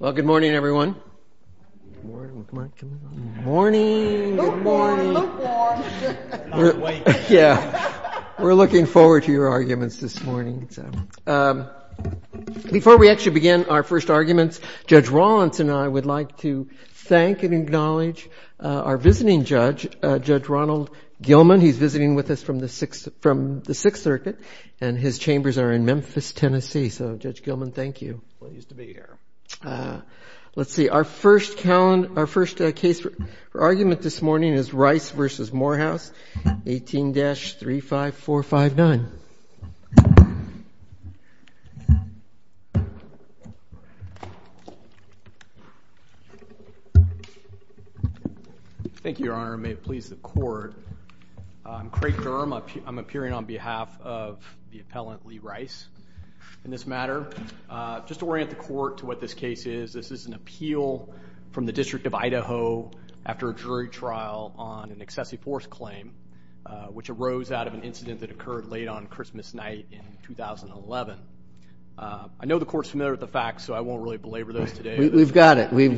Well, good morning, everyone. Good morning. Good morning. Good morning. Good morning. Good morning. I'm not awake. Yeah. We're looking forward to your arguments this morning. Before we actually begin our first arguments, Judge Rollins and I would like to thank and acknowledge our visiting judge, Judge Ronald Gilman. He's visiting with us from the Sixth Circuit, and his chambers are in Memphis, Tennessee. So, Judge Gilman, thank you. Pleased to be here. Let's see. Our first argument this morning is Rice v. Morehouse, 18-35459. Thank you, Your Honor. May it please the Court. I'm Craig Durham. I'm appearing on behalf of the appellant, Lee Rice. In this matter, just to orient the Court to what this case is, this is an appeal from the District of Idaho after a jury trial on an excessive force claim, which arose out of an incident that occurred late on Christmas night in 2011. I know the Court's familiar with the facts, so I won't really belabor those today. We've got it. We've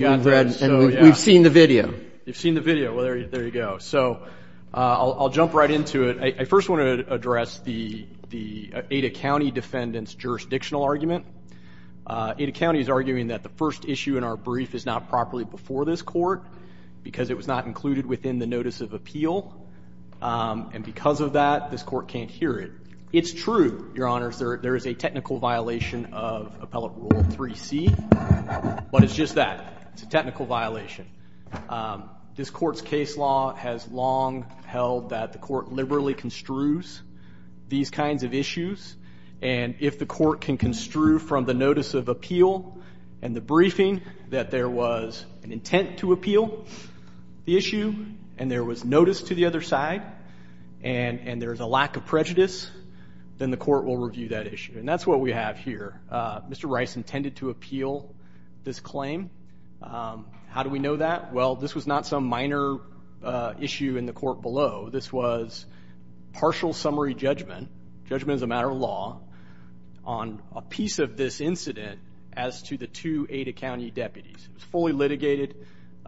seen the video. You've seen the video. Well, there you go. So I'll jump right into it. I first want to address the Ada County defendant's jurisdictional argument. Ada County is arguing that the first issue in our brief is not properly before this court because it was not included within the notice of appeal, and because of that, this Court can't hear it. It's true, Your Honors, there is a technical violation of Appellate Rule 3C, but it's just that. It's a technical violation. This Court's case law has long held that the Court liberally construes these kinds of issues, and if the Court can construe from the notice of appeal and the briefing that there was an intent to appeal the issue and there was notice to the other side and there is a lack of prejudice, then the Court will review that issue, and that's what we have here. Mr. Rice intended to appeal this claim. How do we know that? Well, this was not some minor issue in the Court below. This was partial summary judgment, judgment as a matter of law, on a piece of this incident as to the two Ada County deputies. It was fully litigated.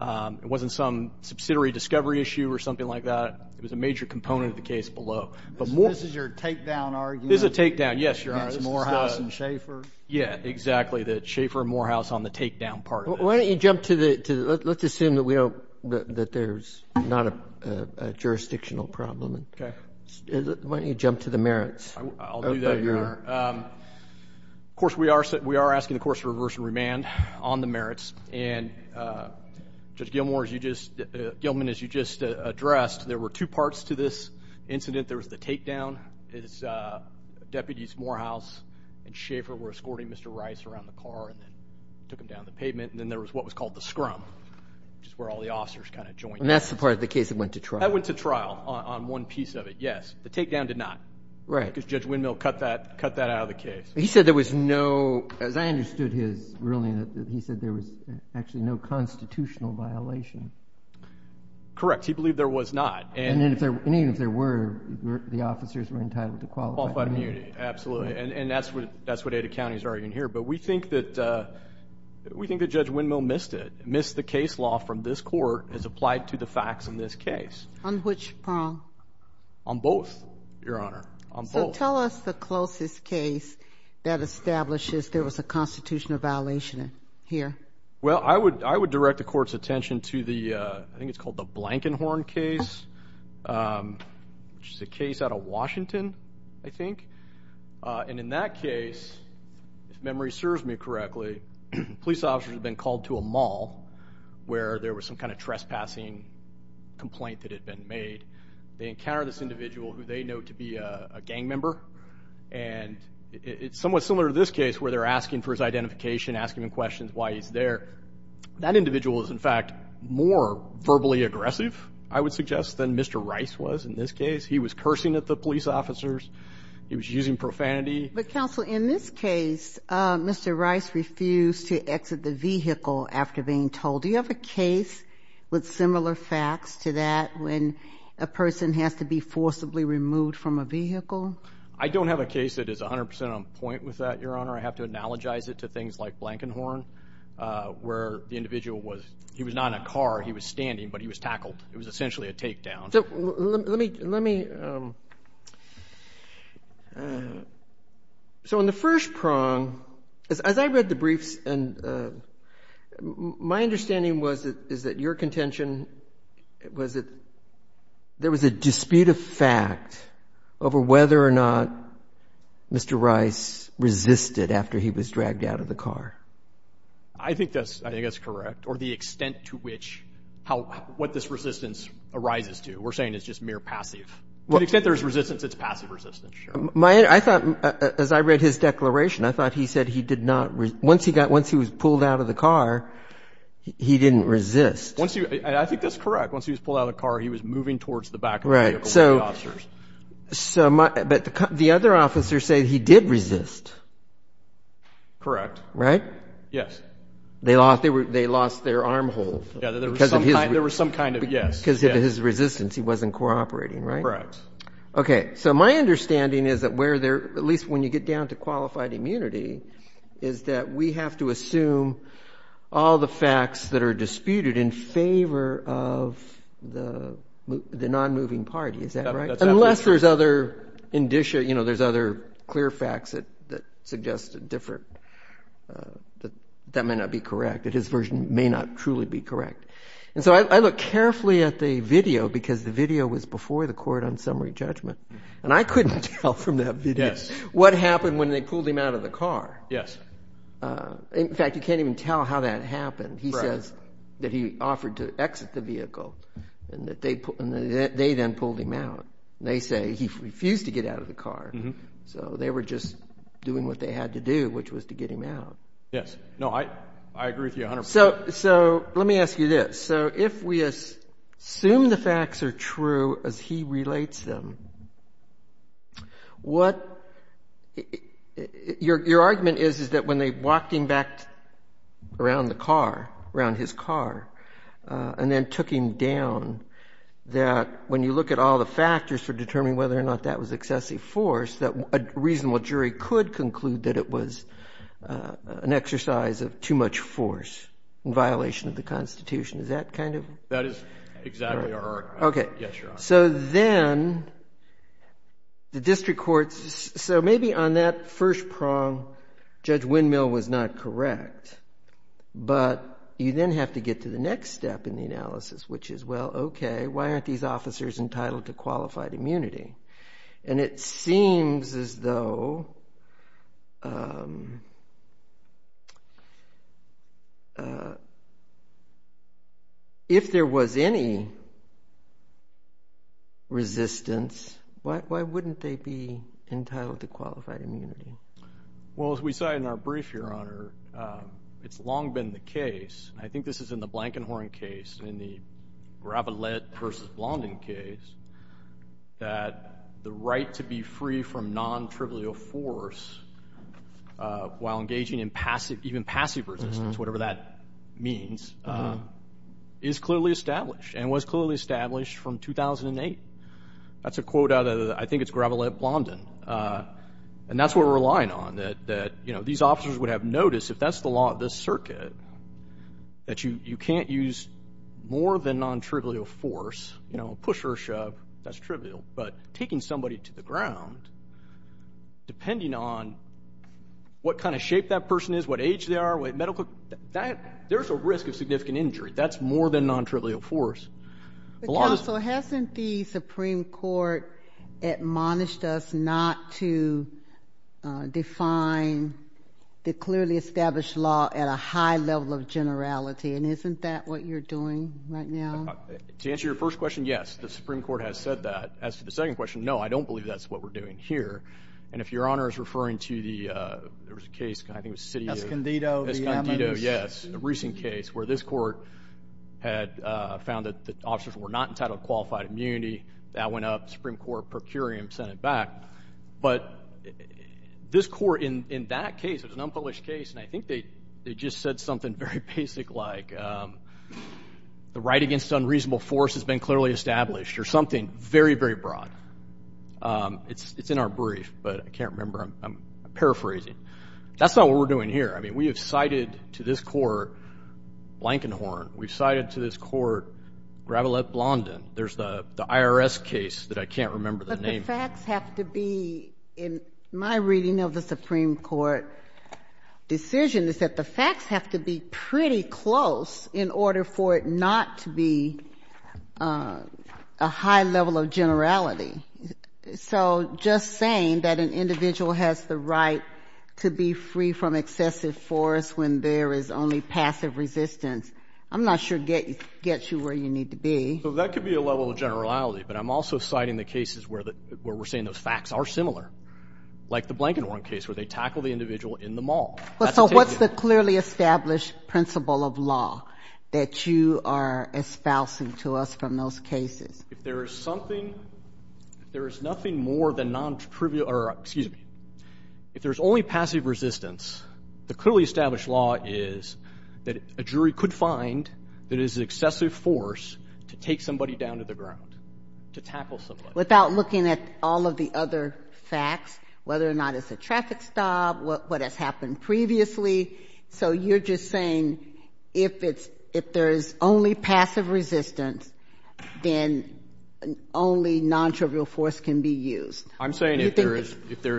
It wasn't some subsidiary discovery issue or something like that. It was a major component of the case below. This is your takedown argument? Against Morehouse and Schaefer? Yeah, exactly, that Schaefer and Morehouse on the takedown part of it. Why don't you jump to the—let's assume that there's not a jurisdictional problem. Okay. Why don't you jump to the merits? I'll do that, Your Honor. Of course, we are asking the courts to reverse and remand on the merits, and Judge Gilman, as you just addressed, there were two parts to this incident. There was the takedown. Deputies Morehouse and Schaefer were escorting Mr. Rice around the car and took him down the pavement. And then there was what was called the scrum, which is where all the officers kind of joined in. And that's the part of the case that went to trial? That went to trial on one piece of it, yes. The takedown did not. Right. Because Judge Windmill cut that out of the case. He said there was no—as I understood his ruling, he said there was actually no constitutional violation. Correct. He believed there was not. And even if there were, the officers were entitled to qualified immunity. Qualified immunity, absolutely. And that's what Ada County is arguing here. But we think that Judge Windmill missed it, missed the case law from this court as applied to the facts in this case. On which prong? On both, Your Honor, on both. So tell us the closest case that establishes there was a constitutional violation here. Well, I would direct the court's attention to the— I think it's called the Blankenhorn case, which is a case out of Washington, I think. And in that case, if memory serves me correctly, police officers had been called to a mall where there was some kind of trespassing complaint that had been made. They encountered this individual who they know to be a gang member. And it's somewhat similar to this case where they're asking for his identification, asking him questions, why he's there. That individual is, in fact, more verbally aggressive, I would suggest, than Mr. Rice was in this case. He was cursing at the police officers. He was using profanity. But, counsel, in this case, Mr. Rice refused to exit the vehicle after being told. Do you have a case with similar facts to that when a person has to be forcibly removed from a vehicle? I don't have a case that is 100 percent on point with that, Your Honor. I have to analogize it to things like Blankenhorn, where the individual was not in a car, he was standing, but he was tackled. It was essentially a takedown. Let me, let me. So in the first prong, as I read the briefs, my understanding is that your contention was that there was a dispute of fact over whether or not Mr. Rice resisted after he was dragged out of the car. I think that's, I think that's correct, or the extent to which how, what this resistance arises to. We're saying it's just mere passive. To the extent there's resistance, it's passive resistance, Your Honor. My, I thought, as I read his declaration, I thought he said he did not, once he got, once he was pulled out of the car, he didn't resist. Once he, I think that's correct. Once he was pulled out of the car, he was moving towards the back of the vehicle with the officers. So, but the other officers say he did resist. Correct. Right? Yes. They lost, they lost their arm hold. Yeah, there was some kind of, yes. Because of his resistance, he wasn't cooperating, right? Correct. Okay. So my understanding is that where there, at least when you get down to qualified immunity, is that we have to assume all the facts that are disputed in favor of the, the non-moving party, is that right? That's absolutely true. Unless there's other indicia, you know, there's other clear facts that, that suggest a different, that that may not be correct, that his version may not truly be correct. And so I look carefully at the video, because the video was before the court on summary judgment, and I couldn't tell from that video what happened when they pulled him out of the car. Yes. In fact, you can't even tell how that happened. Right. Because that he offered to exit the vehicle, and they then pulled him out. They say he refused to get out of the car. So they were just doing what they had to do, which was to get him out. Yes. No, I agree with you 100%. So let me ask you this. So if we assume the facts are true as he relates them, what, your argument is, is that when they walked him back around the car, around his car, and then took him down, that when you look at all the factors for determining whether or not that was excessive force, that a reasonable jury could conclude that it was an exercise of too much force in violation of the Constitution. Is that kind of? That is exactly our argument. Okay. Yes, Your Honor. So then the district courts, so maybe on that first prong, Judge Windmill was not correct. But you then have to get to the next step in the analysis, which is, well, okay, why aren't these officers entitled to qualified immunity? And it seems as though if there was any resistance, why wouldn't they be entitled to qualified immunity? Well, as we said in our brief, Your Honor, it's long been the case, and I think this is in the Blankenhorn case, in the Gravelette v. Blondin case, that the right to be free from nontrivial force while engaging in passive, even passive resistance, whatever that means, is clearly established and was clearly established from 2008. That's a quote out of, I think it's Gravelette Blondin. And that's what we're relying on, that, you know, these officers would have noticed, if that's the law of this circuit, that you can't use more than nontrivial force, you know, push or shove, that's trivial, but taking somebody to the ground, depending on what kind of shape that person is, what age they are, what medical, there's a risk of significant injury. That's more than nontrivial force. Counsel, hasn't the Supreme Court admonished us not to define the clearly established law at a high level of generality, and isn't that what you're doing right now? To answer your first question, yes, the Supreme Court has said that. As to the second question, no, I don't believe that's what we're doing here. And if Your Honor is referring to the case, I think it was the city of… Escondido v. Emmons. Escondido, yes, a recent case where this court had found that the officers were not entitled to qualified immunity. That went up. The Supreme Court procuring sent it back. But this court in that case, it was an unpublished case, and I think they just said something very basic like, the right against unreasonable force has been clearly established, or something very, very broad. It's in our brief, but I can't remember. I'm paraphrasing. That's not what we're doing here. I mean, we have cited to this court Blankenhorn. We've cited to this court Gravelette Blondin. There's the IRS case that I can't remember the name. The facts have to be, in my reading of the Supreme Court decision, is that the facts have to be pretty close in order for it not to be a high level of generality. So just saying that an individual has the right to be free from excessive force when there is only passive resistance, I'm not sure gets you where you need to be. Well, that could be a level of generality, but I'm also citing the cases where we're saying those facts are similar, like the Blankenhorn case where they tackle the individual in the mall. So what's the clearly established principle of law that you are espousing to us from those cases? If there is something, if there is nothing more than non-trivial, or excuse me, if there's only passive resistance, the clearly established law is that a jury could find that it is excessive force to take somebody down to the ground, to tackle somebody. Without looking at all of the other facts, whether or not it's a traffic stop, what has happened previously. So you're just saying if there's only passive resistance, then only non-trivial force can be used. I'm saying if there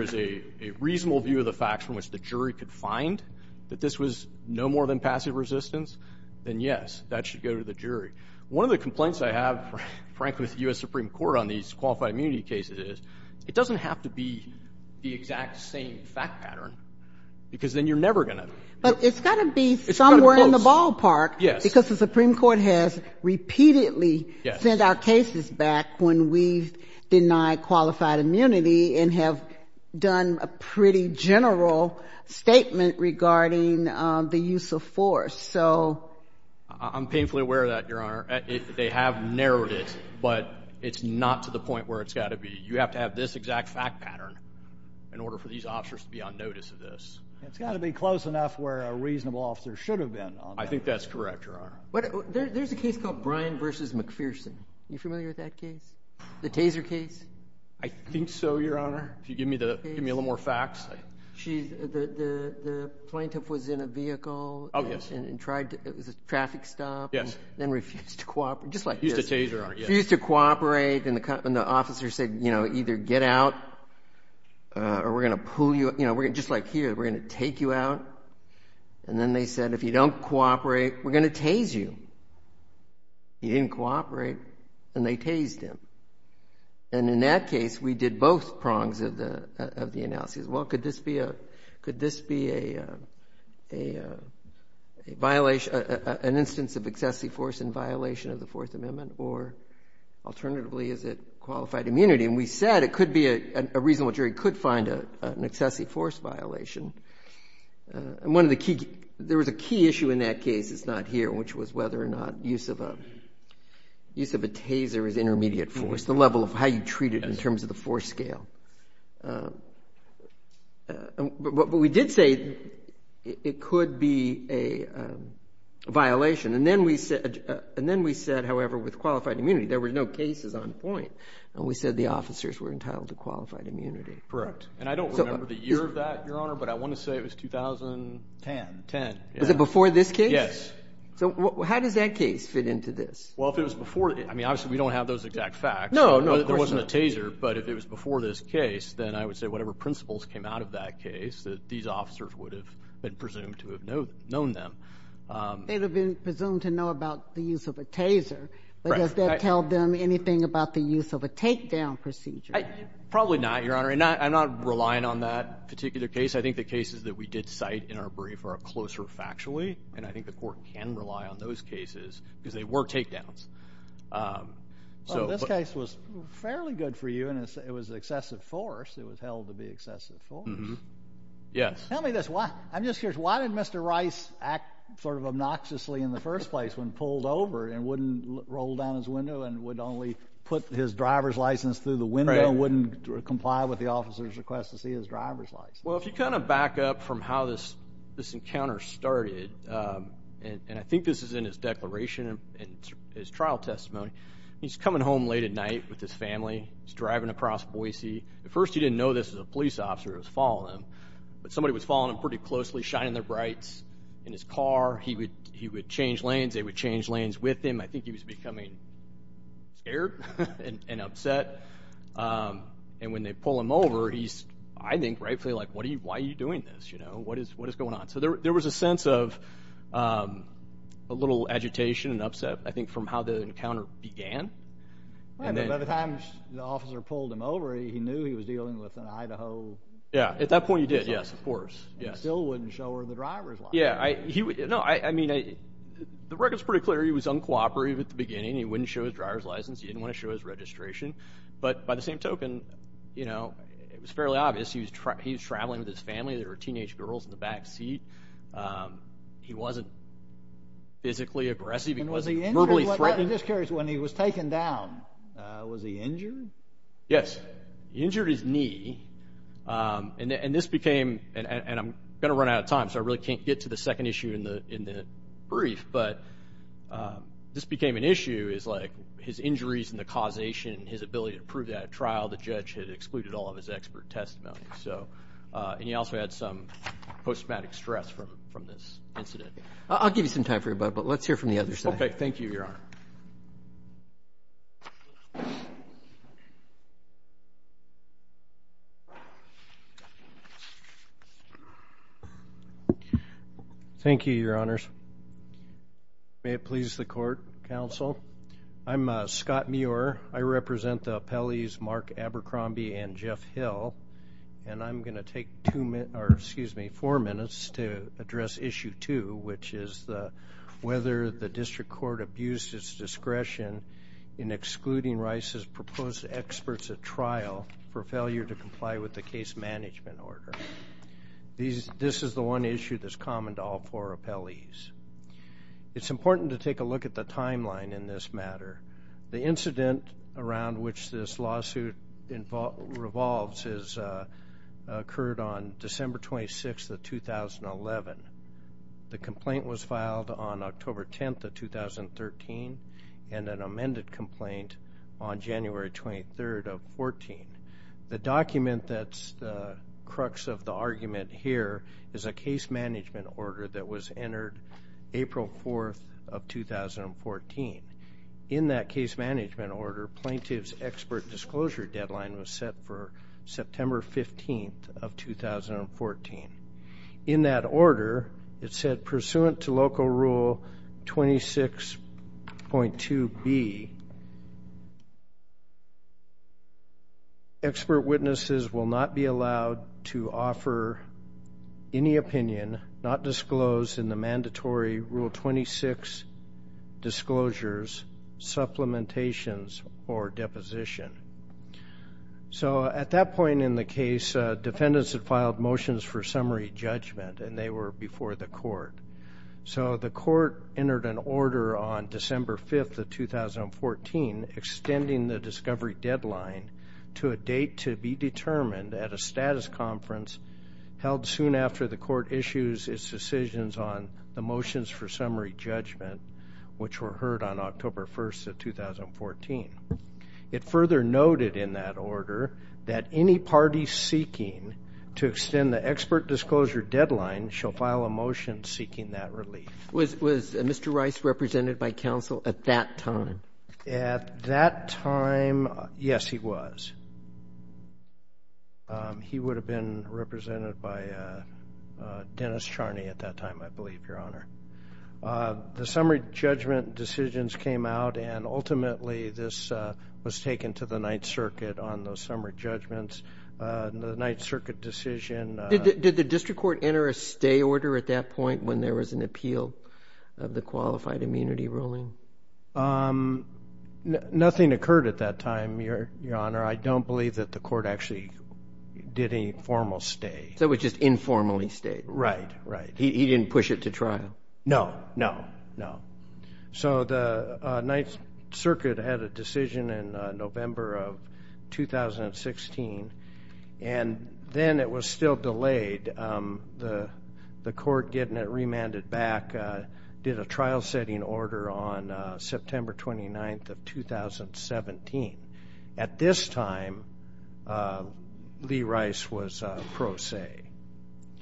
is a reasonable view of the facts from which the jury could find that this was no more than passive resistance, then yes, that should go to the jury. One of the complaints I have, frankly, with the U.S. Supreme Court on these qualified immunity cases is it doesn't have to be the exact same fact pattern, because then you're never going to. But it's got to be somewhere in the ballpark. Yes. Because the Supreme Court has repeatedly sent our cases back when we've denied qualified immunity and have done a pretty general statement regarding the use of force. I'm painfully aware of that, Your Honor. They have narrowed it, but it's not to the point where it's got to be. You have to have this exact fact pattern in order for these officers to be on notice of this. It's got to be close enough where a reasonable officer should have been. I think that's correct, Your Honor. There's a case called Bryan v. McPherson. Are you familiar with that case? The taser case? I think so, Your Honor. If you give me a little more facts. The plaintiff was in a vehicle and tried to traffic stop and then refused to cooperate, just like this. Refused to tase, Your Honor. Refused to cooperate, and the officer said, you know, either get out or we're going to pull you. You know, just like here, we're going to take you out. And then they said, if you don't cooperate, we're going to tase you. He didn't cooperate, and they tased him. And in that case, we did both prongs of the analysis. Well, could this be an instance of excessive force in violation of the Fourth Amendment, or alternatively, is it qualified immunity? And we said it could be a reasonable jury could find an excessive force violation. And one of the key – there was a key issue in that case that's not here, which was whether or not use of a taser is intermediate force, the level of how you treat it in terms of the force scale. But we did say it could be a violation. And then we said, however, with qualified immunity, there were no cases on point, and we said the officers were entitled to qualified immunity. Correct. And I don't remember the year of that, Your Honor, but I want to say it was 2010. Was it before this case? Yes. So how does that case fit into this? Well, if it was before – I mean, obviously, we don't have those exact facts. No, of course not. There wasn't a taser, but if it was before this case, then I would say whatever principles came out of that case, that these officers would have been presumed to have known them. They would have been presumed to know about the use of a taser. Right. But does that tell them anything about the use of a takedown procedure? Probably not, Your Honor. I'm not relying on that particular case. I think the cases that we did cite in our brief are closer factually, and I think the Court can rely on those cases because they were takedowns. Well, this case was fairly good for you, and it was excessive force. It was held to be excessive force. Yes. Tell me this. I'm just curious, why did Mr. Rice act sort of obnoxiously in the first place when pulled over and wouldn't roll down his window and would only put his driver's license through the window and wouldn't comply with the officer's request to see his driver's license? Well, if you kind of back up from how this encounter started, and I think this is in his declaration and his trial testimony, he's coming home late at night with his family. He's driving across Boise. At first he didn't know this was a police officer that was following him, but somebody was following him pretty closely, shining their brights in his car. He would change lanes. They would change lanes with him. I think he was becoming scared and upset. And when they pull him over, he's, I think, rightfully like, why are you doing this? What is going on? So there was a sense of a little agitation and upset, I think, from how the encounter began. By the time the officer pulled him over, he knew he was dealing with an Idaho officer. Yes, at that point he did, yes, of course. He still wouldn't show her the driver's license. No, I mean, the record's pretty clear. He was uncooperative at the beginning. He wouldn't show his driver's license. He didn't want to show his registration. But by the same token, you know, it was fairly obvious he was traveling with his family. There were teenage girls in the back seat. He wasn't physically aggressive. He wasn't verbally threatening. I'm just curious, when he was taken down, was he injured? Yes. He injured his knee, and this became, and I'm going to run out of time, so I really can't get to the second issue in the brief, but this became an issue is, like, his injuries and the causation, his ability to prove that at trial, the judge had excluded all of his expert testimony. And he also had some post-traumatic stress from this incident. I'll give you some time for your bud, but let's hear from the other side. Okay, thank you, Your Honor. Thank you, Your Honors. May it please the Court, Counsel. I'm Scott Muir. I represent the appellees Mark Abercrombie and Jeff Hill, and I'm going to take two minutes, or excuse me, four minutes to address issue two, which is whether the district court abused its discretion in excluding Rice's proposed experts at trial for failure to comply with the case management order. This is the one issue that's common to all four appellees. It's important to take a look at the timeline in this matter. The incident around which this lawsuit revolves occurred on December 26th of 2011. The complaint was filed on October 10th of 2013, and an amended complaint on January 23rd of 2014. The document that's the crux of the argument here is a case management order that was entered April 4th of 2014. In that case management order, plaintiff's expert disclosure deadline was set for September 15th of 2014. In that order, it said pursuant to Local Rule 26.2b, expert witnesses will not be allowed to offer any opinion not disclosed in the mandatory Rule 26 disclosures, supplementations, or deposition. So at that point in the case, defendants had filed motions for summary judgment, and they were before the court. So the court entered an order on December 5th of 2014, extending the discovery deadline to a date to be determined at a status conference held soon after the court issues its decisions on the motions for summary judgment, which were heard on October 1st of 2014. It further noted in that order that any party seeking to extend the expert disclosure deadline shall file a motion seeking that relief. Was Mr. Rice represented by counsel at that time? At that time, yes, he was. He would have been represented by Dennis Charney at that time, I believe, Your Honor. The summary judgment decisions came out, and ultimately this was taken to the Ninth Circuit on those summary judgments. The Ninth Circuit decision ---- Did the district court enter a stay order at that point when there was an appeal of the qualified immunity ruling? Nothing occurred at that time, Your Honor. I don't believe that the court actually did any formal stay. So it was just informally stayed? Right, right. He didn't push it to trial? No, no, no. So the Ninth Circuit had a decision in November of 2016, and then it was still delayed. The court getting it remanded back, did a trial-setting order on September 29th of 2017. At this time, Lee Rice was pro se.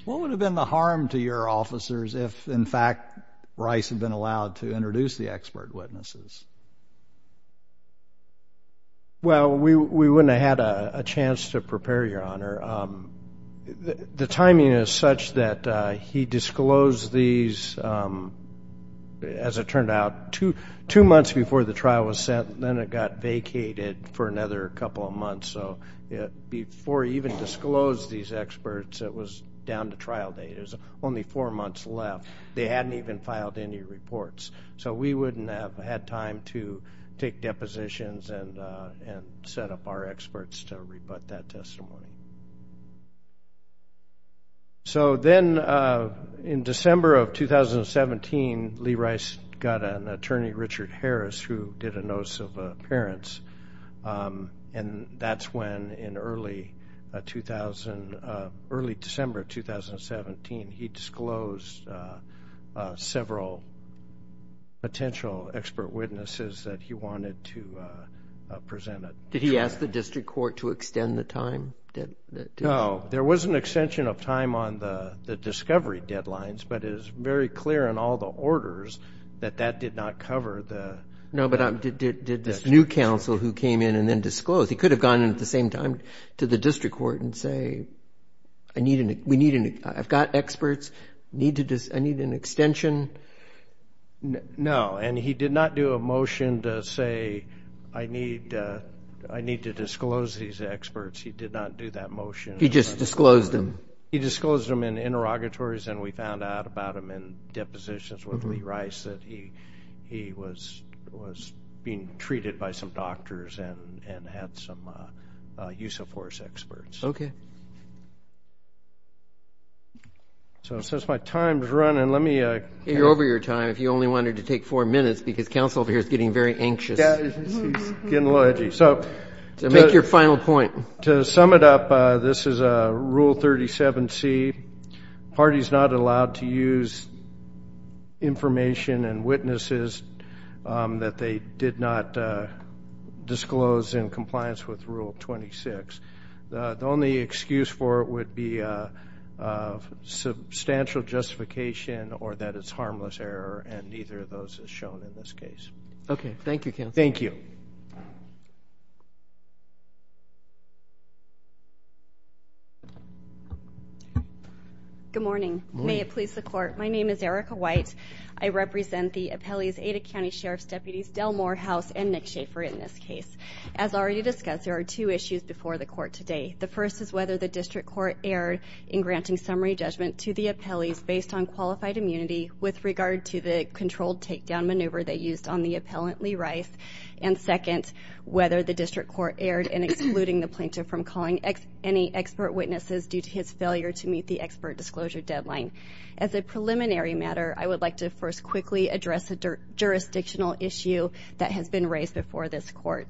What would have been the harm to your officers if, in fact, Rice had been allowed to introduce the expert witnesses? Well, we wouldn't have had a chance to prepare, Your Honor. The timing is such that he disclosed these, as it turned out, two months before the trial was set, and then it got vacated for another couple of months. So before he even disclosed these experts, it was down to trial date. There was only four months left. They hadn't even filed any reports. So we wouldn't have had time to take depositions and set up our experts to rebut that testimony. So then in December of 2017, Lee Rice got an attorney, Richard Harris, who did a notice of appearance, and that's when, in early December of 2017, he disclosed several potential expert witnesses that he wanted to present. Did he ask the district court to extend the time? No. There was an extension of time on the discovery deadlines, but it is very clear in all the orders that that did not cover the experts. No, but did this new counsel who came in and then disclosed, he could have gone in at the same time to the district court and say, I've got experts, I need an extension. No, and he did not do a motion to say, I need to disclose these experts. He did not do that motion. He just disclosed them. He disclosed them in interrogatories, and we found out about them in depositions with Lee Rice that he was being treated by some doctors and had some use of force experts. Okay. So since my time is running, let me. You're over your time. If you only wanted to take four minutes, because counsel over here is getting very anxious. He's getting a little edgy. So make your final point. To sum it up, this is Rule 37C. Parties not allowed to use information and witnesses that they did not disclose in compliance with Rule 26. The only excuse for it would be substantial justification or that it's harmless error, and neither of those is shown in this case. Okay. Thank you, counsel. Thank you. Good morning. May it please the Court. My name is Erica White. I represent the appellees Ada County Sheriff's Deputies Delmore, House, and Nick Schaefer in this case. As already discussed, there are two issues before the Court today. The first is whether the district court erred in granting summary judgment to the appellees based on qualified immunity with regard to the controlled takedown maneuver they used on the appellant Lee Rice. And second, whether the district court erred in excluding the plaintiff from calling any expert witnesses due to his failure to meet the expert disclosure deadline. As a preliminary matter, I would like to first quickly address a jurisdictional issue that has been raised before this Court.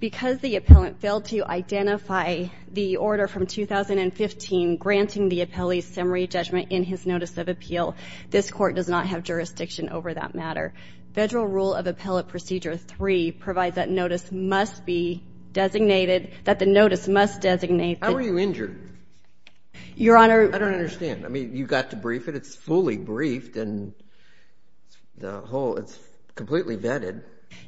Because the appellant failed to identify the order from 2015 granting the appellee summary judgment in his notice of appeal, this Court does not have jurisdiction over that matter. Federal Rule of Appellate Procedure 3 provides that notice must be designated, that the notice must designate the ---- How were you injured? Your Honor ---- I don't understand. I mean, you got to brief it. It's fully briefed, and the whole ---- it's completely vetted.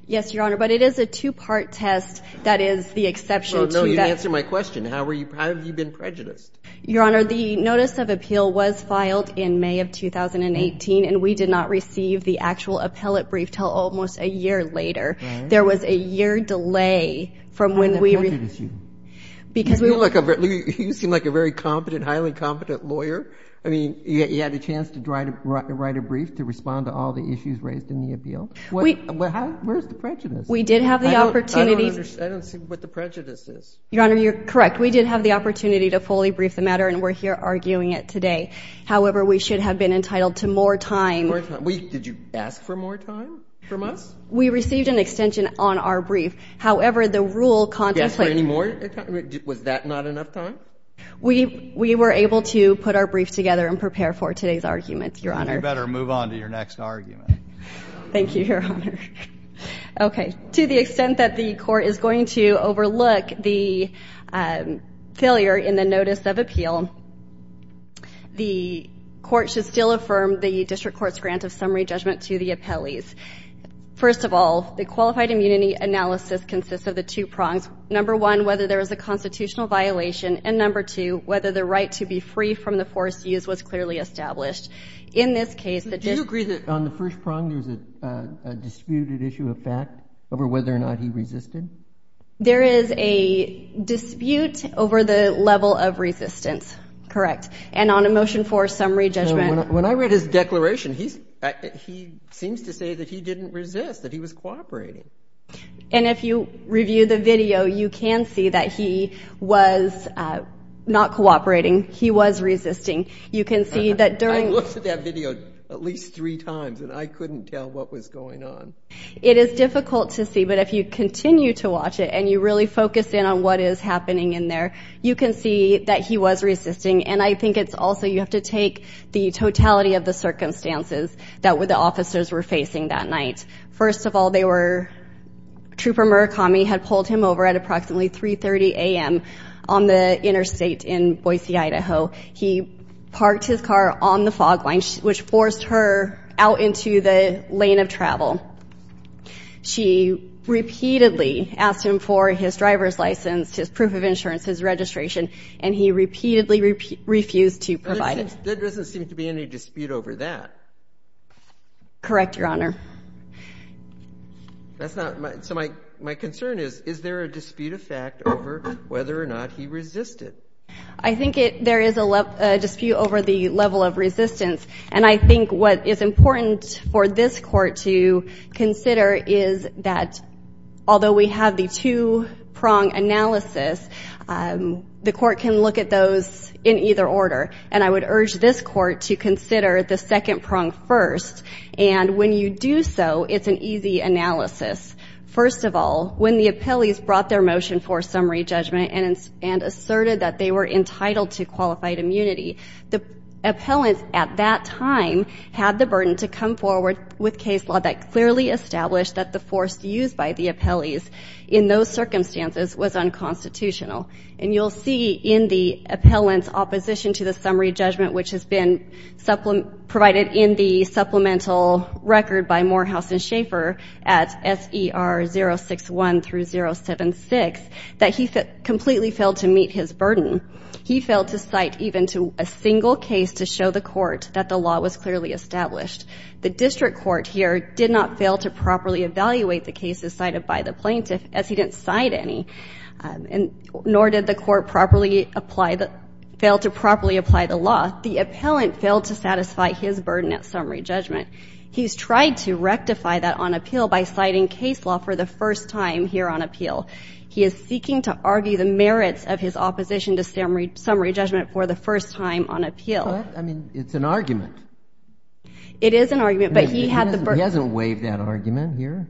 Yes, Your Honor, but it is a two-part test. That is the exception to that. Well, no, you didn't answer my question. How were you ---- How have you been prejudiced? Your Honor, the notice of appeal was filed in May of 2018, and we did not receive the actual appellate brief until almost a year later. All right. There was a year delay from when we ---- How did that prejudice you? Because we ---- You look like a very ---- You seem like a very competent, highly competent lawyer. Where is the prejudice? We did have the opportunity to ---- I don't see what the prejudice is. Your Honor, you're correct. We did have the opportunity to fully brief the matter, and we're here arguing it today. However, we should have been entitled to more time. Did you ask for more time from us? We received an extension on our brief. However, the rule ---- Did you ask for any more time? Was that not enough time? We were able to put our brief together and prepare for today's argument, Your Honor. You better move on to your next argument. Thank you, Your Honor. Okay. To the extent that the court is going to overlook the failure in the notice of appeal, the court should still affirm the district court's grant of summary judgment to the appellees. First of all, the qualified immunity analysis consists of the two prongs, number one, whether there was a constitutional violation, and number two, whether the right to be free from the force used was clearly established. In this case, the district ---- Do you agree that on the first prong there's a disputed issue of fact over whether or not he resisted? There is a dispute over the level of resistance. Correct. And on a motion for summary judgment ---- When I read his declaration, he seems to say that he didn't resist, that he was cooperating. And if you review the video, you can see that he was not cooperating. He was resisting. You can see that during ---- I looked at that video at least three times, and I couldn't tell what was going on. It is difficult to see, but if you continue to watch it and you really focus in on what is happening in there, you can see that he was resisting. And I think it's also you have to take the totality of the circumstances that the officers were facing that night. First of all, they were ---- Trooper Murakami had pulled him over at approximately 3.30 a.m. on the interstate in Boise, Idaho. He parked his car on the fog line, which forced her out into the lane of travel. She repeatedly asked him for his driver's license, his proof of insurance, his registration, and he repeatedly refused to provide it. There doesn't seem to be any dispute over that. Correct, Your Honor. That's not my ---- So my concern is, is there a dispute of fact over whether or not he resisted? I think there is a dispute over the level of resistance. And I think what is important for this Court to consider is that, although we have the two-prong analysis, the Court can look at those in either order. And I would urge this Court to consider the second prong first. And when you do so, it's an easy analysis. First of all, when the appellees brought their motion for summary judgment and asserted that they were entitled to qualified immunity, the appellants at that time had the burden to come forward with case law that clearly established that the force used by the appellees in those circumstances was unconstitutional. And you'll see in the appellant's opposition to the summary judgment, which has been provided in the supplemental record by Morehouse and Schaffer at S.E.R. 061 through 076, that he completely failed to meet his burden. He failed to cite even to a single case to show the Court that the law was clearly established. The district court here did not fail to properly evaluate the cases cited by the plaintiff, as he didn't cite any. And nor did the Court properly apply the ---- fail to properly apply the law. The appellant failed to satisfy his burden at summary judgment. He's tried to rectify that on appeal by citing case law for the first time here on appeal. He is seeking to argue the merits of his opposition to summary judgment for the first time on appeal. I mean, it's an argument. It is an argument, but he had the burden. He hasn't waived that argument here.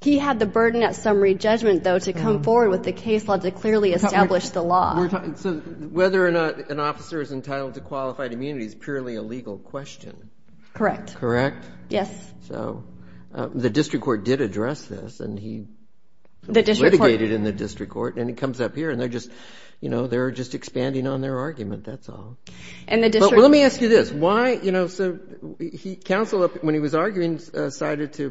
He had the burden at summary judgment, though, to come forward with the case law to clearly establish the law. So whether or not an officer is entitled to qualified immunity is purely a legal question. Correct. Correct? Yes. So the district court did address this, and he ---- Litigated in the district court, and he comes up here, and they're just, you know, they're just expanding on their argument. That's all. And the district court ---- Well, let me ask you this. Why, you know, so counsel, when he was arguing, cited to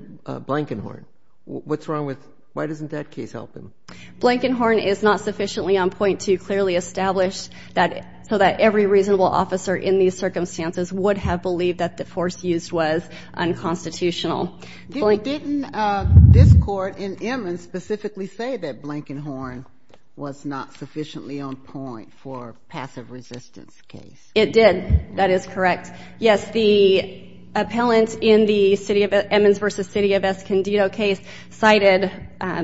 Blankenhorn. What's wrong with ---- Why doesn't that case help him? Blankenhorn is not sufficiently on point to clearly establish that so that every reasonable officer in these circumstances would have believed that the force used was unconstitutional. Didn't this court in Emmons specifically say that Blankenhorn was not sufficiently on point for a passive resistance case? It did. That is correct. Yes. The appellant in the city of Emmons v. City of Escondido case cited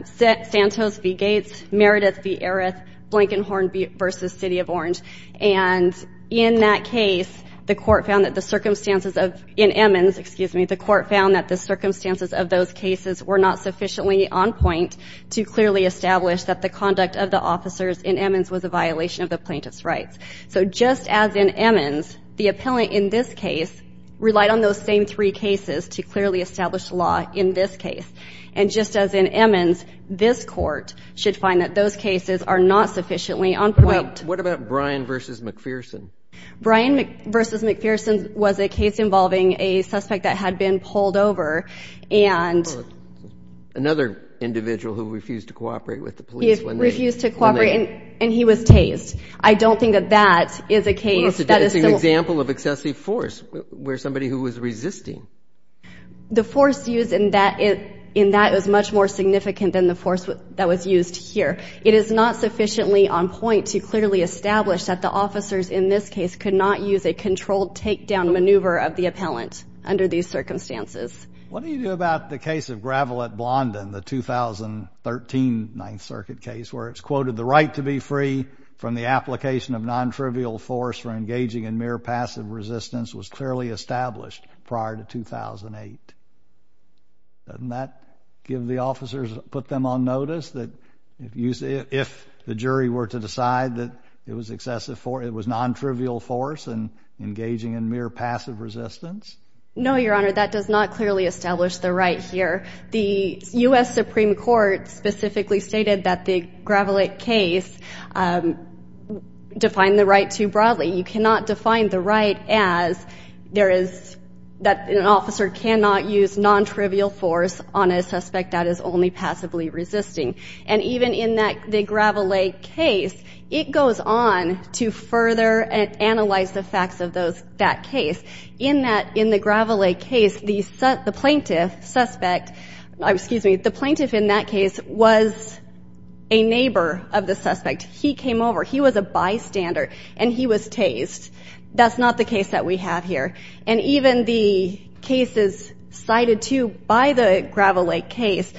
Santos v. Gates, Meredith v. Eris, Blankenhorn v. City of Orange. And in that case, the court found that the circumstances of ---- in Emmons, excuse me, the court found that the circumstances of those cases were not sufficiently on point to clearly establish that the conduct of the officers in Emmons was a violation of the plaintiff's rights. So just as in Emmons, the appellant in this case relied on those same three cases to clearly establish the law in this case. And just as in Emmons, this court should find that those cases are not sufficiently on point. What about Bryan v. McPherson? Bryan v. McPherson was a case involving a suspect that had been pulled over and ---- Another individual who refused to cooperate with the police when they ---- Refused to cooperate and he was tased. I don't think that that is a case that is still ---- Well, it's an example of excessive force where somebody who was resisting. The force used in that is much more significant than the force that was used here. It is not sufficiently on point to clearly establish that the officers in this case could not use a controlled takedown maneuver of the appellant under these circumstances. What do you do about the case of Gravelette Blondin, the 2013 Ninth Circuit case, where it's quoted the right to be free from the application of non-trivial force for engaging in mere passive resistance was clearly established prior to 2008? Doesn't that give the officers, put them on notice that if the jury were to decide that it was non-trivial force and engaging in mere passive resistance? No, Your Honor, that does not clearly establish the right here. The U.S. Supreme Court specifically stated that the Gravelette case defined the right too broadly. You cannot define the right as there is that an officer cannot use non-trivial force on a suspect that is only passively resisting. And even in the Gravelette case, it goes on to further analyze the facts of that case. In the Gravelette case, the plaintiff suspect ---- excuse me, the plaintiff in that case was a neighbor of the suspect. He came over. He was a bystander, and he was tased. That's not the case that we have here. And even the cases cited too by the Gravelette case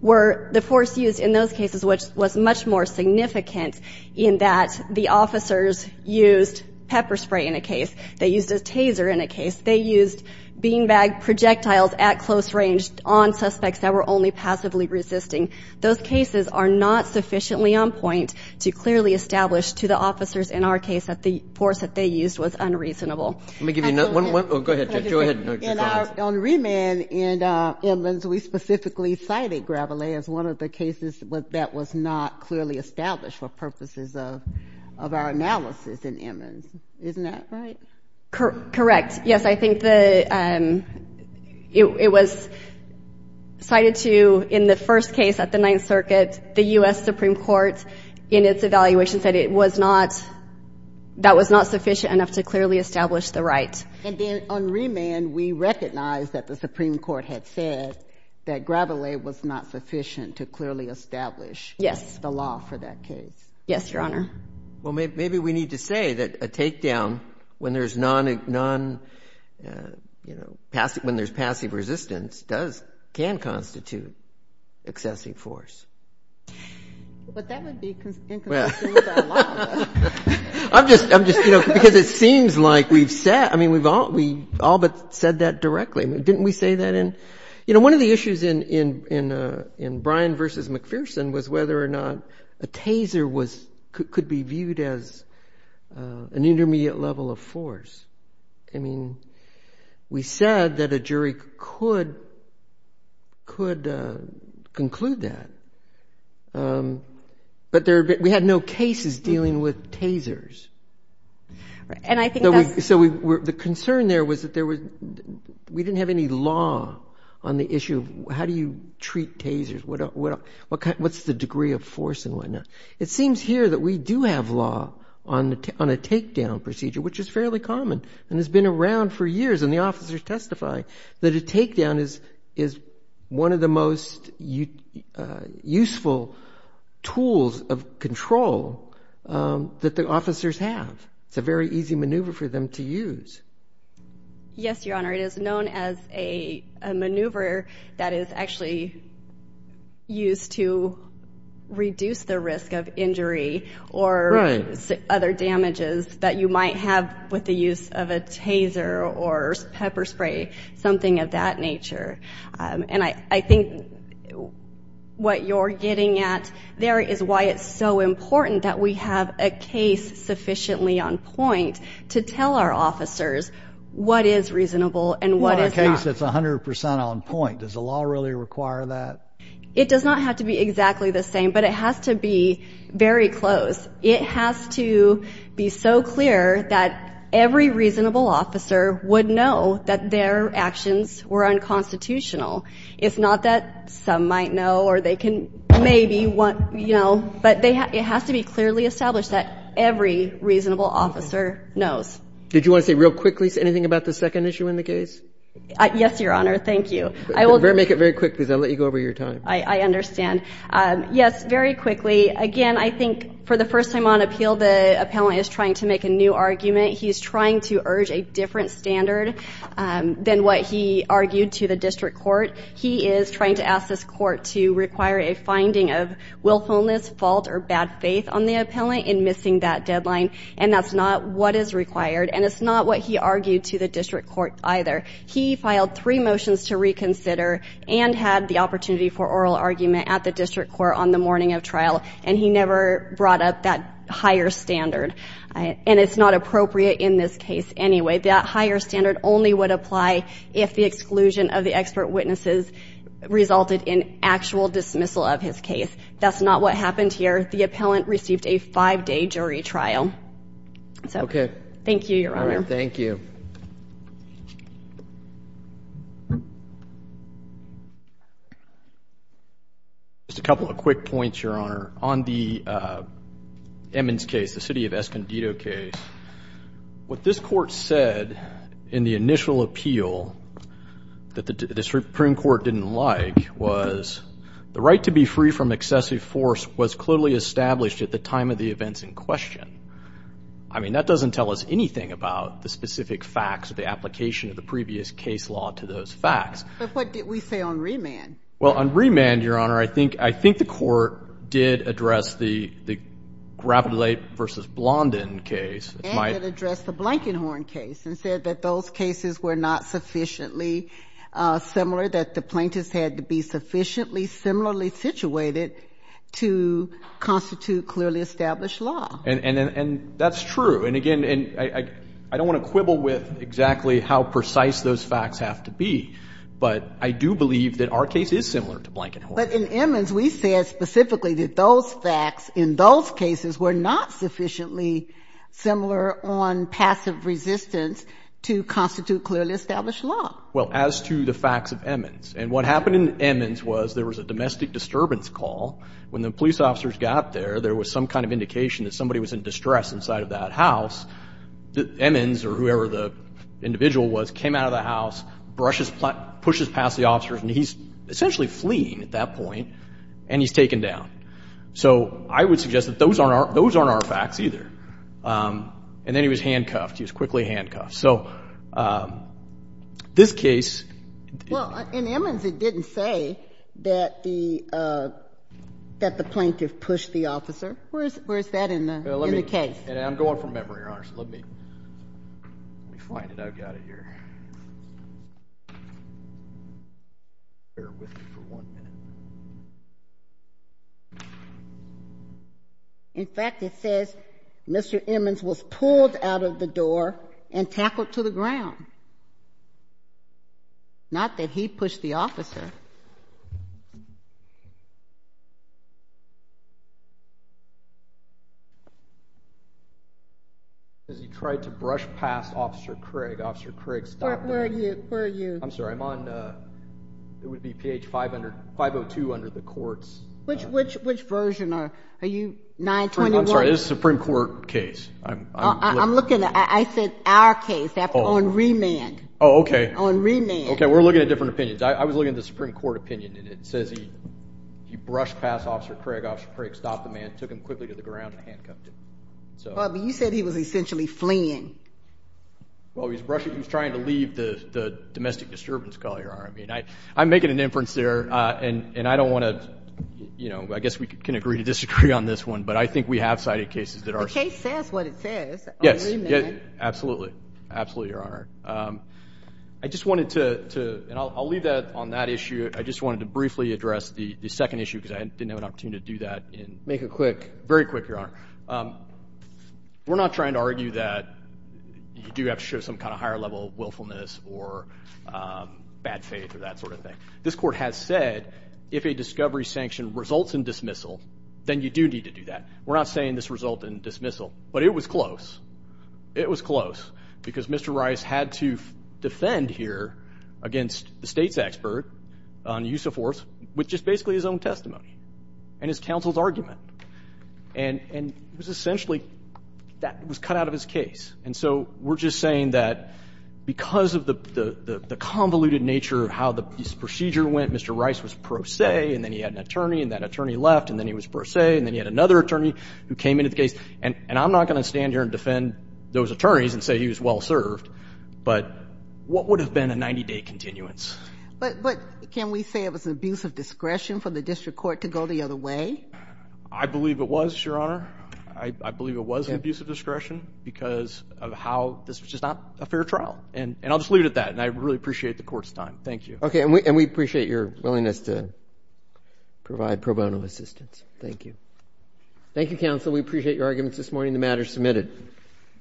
were the force used in those cases, which was much more significant in that the officers used pepper spray in a case. They used a taser in a case. They used beanbag projectiles at close range on suspects that were only passively resisting. Those cases are not sufficiently on point to clearly establish to the officers in our case that the force that they used was unreasonable. Let me give you another one. Go ahead, Judge. Go ahead. On Riemann and Emmons, we specifically cited Gravelette as one of the cases that was not clearly established for purposes of our analysis in Emmons. Isn't that right? Correct. Yes, I think the ---- it was cited too in the first case at the Ninth Circuit. The U.S. Supreme Court, in its evaluation, said it was not ---- that was not sufficient enough to clearly establish the right. And then on Riemann, we recognize that the Supreme Court had said that Gravelette was not sufficient to clearly establish the law for that case. Yes, Your Honor. Well, maybe we need to say that a takedown when there's non----- when there's passive resistance can constitute excessive force. But that would be inconsistent with our law. I'm just, you know, because it seems like we've said ---- I mean, we've all but said that directly. Didn't we say that in ---- You know, one of the issues in Bryan v. McPherson was whether or not a taser could be viewed as an intermediate level of force. I mean, we said that a jury could conclude that. But we had no cases dealing with tasers. And I think that's ---- So the concern there was that there was ---- we didn't have any law on the issue of how do you treat tasers, what's the degree of force and whatnot. It seems here that we do have law on a takedown procedure, which is fairly common and has been around for years, and the officers testify that a takedown is one of the most useful tools of control that the officers have. It's a very easy maneuver for them to use. Yes, Your Honor. It is known as a maneuver that is actually used to reduce the risk of injury or other damages that you might have with the use of a taser or pepper spray, something of that nature. And I think what you're getting at there is why it's so important that we have a case sufficiently on point to tell our officers what is reasonable and what is not. Well, in a case that's 100 percent on point, does the law really require that? It does not have to be exactly the same, but it has to be very close. It has to be so clear that every reasonable officer would know that their actions were unconstitutional. It's not that some might know or they can maybe want, you know, but it has to be clearly established that every reasonable officer knows. Did you want to say real quickly anything about the second issue in the case? Yes, Your Honor. Thank you. Make it very quick, because I'll let you go over your time. I understand. Yes, very quickly. Again, I think for the first time on appeal, the appellant is trying to make a new argument. He's trying to urge a different standard than what he argued to the district court. He is trying to ask this court to require a finding of willfulness, fault, or bad faith on the appellant in missing that deadline, and that's not what is required, and it's not what he argued to the district court either. He filed three motions to reconsider and had the opportunity for oral argument at the district court on the morning of trial, and he never brought up that higher standard, and it's not appropriate in this case anyway. That higher standard only would apply if the exclusion of the expert witnesses resulted in actual dismissal of his case. That's not what happened here. The appellant received a five-day jury trial. Okay. Thank you, Your Honor. All right, thank you. Thank you. Just a couple of quick points, Your Honor. On the Emmons case, the city of Escondido case, what this court said in the initial appeal that the Supreme Court didn't like was, the right to be free from excessive force was clearly established at the time of the events in question. I mean, that doesn't tell us anything about the specific facts or the application of the previous case law to those facts. But what did we say on Remand? Well, on Remand, Your Honor, I think the court did address the Gravelate v. Blondin case. And it addressed the Blankenhorn case and said that those cases were not sufficiently similar, that the plaintiffs had to be sufficiently similarly situated to constitute clearly established law. And that's true. And, again, I don't want to quibble with exactly how precise those facts have to be. But I do believe that our case is similar to Blankenhorn. But in Emmons, we said specifically that those facts in those cases were not sufficiently similar on passive resistance to constitute clearly established law. Well, as to the facts of Emmons. And what happened in Emmons was there was a domestic disturbance call. When the police officers got there, there was some kind of indication that somebody was in distress inside of that house. Emmons, or whoever the individual was, came out of the house, brushes past the officers. And he's essentially fleeing at that point. And he's taken down. So I would suggest that those aren't our facts either. And then he was handcuffed. He was quickly handcuffed. So this case. Well, in Emmons it didn't say that the plaintiff pushed the officer. Where's that in the case? I'm going from memory, Your Honor. So let me find it. I've got it here. Bear with me for one minute. In fact, it says Mr. Emmons was pulled out of the door and tackled to the ground. Not that he pushed the officer. Because he tried to brush past Officer Craig. Officer Craig stopped him. Where are you? I'm sorry. I'm on, it would be page 502 under the courts. Which version? Are you 921? I'm sorry. This is a Supreme Court case. I'm looking at, I said our case. On remand. Oh, okay. On remand. Okay, we're looking at different opinions. I was looking at the Supreme Court opinion. And it says he brushed past Officer Craig. Officer Craig stopped the man, took him quickly to the ground and handcuffed him. But you said he was essentially fleeing. Well, he was trying to leave the domestic disturbance call, Your Honor. I mean, I'm making an inference there. And I don't want to, you know, I guess we can agree to disagree on this one. But I think we have cited cases that are. The case says what it says. On remand. Yes, absolutely. Absolutely, Your Honor. I just wanted to, and I'll leave that on that issue. I just wanted to briefly address the second issue because I didn't have an opportunity to do that. Make it quick. Very quick, Your Honor. We're not trying to argue that you do have to show some kind of higher level of willfulness or bad faith or that sort of thing. This court has said if a discovery sanction results in dismissal, then you do need to do that. We're not saying this resulted in dismissal. But it was close. It was close. Because Mr. Rice had to defend here against the State's expert on use of force with just basically his own testimony and his counsel's argument. And it was essentially that was cut out of his case. And so we're just saying that because of the convoluted nature of how this procedure went, Mr. Rice was pro se, and then he had an attorney, and that attorney left, and then he was pro se, and I'm not going to stand here and defend those attorneys and say he was well served, but what would have been a 90-day continuance? But can we say it was an abuse of discretion for the district court to go the other way? I believe it was, Your Honor. I believe it was an abuse of discretion because of how this was just not a fair trial. And I'll just leave it at that, and I really appreciate the court's time. Thank you. Okay, and we appreciate your willingness to provide pro bono assistance. Thank you. Thank you, counsel. We appreciate your arguments this morning. The matter is submitted.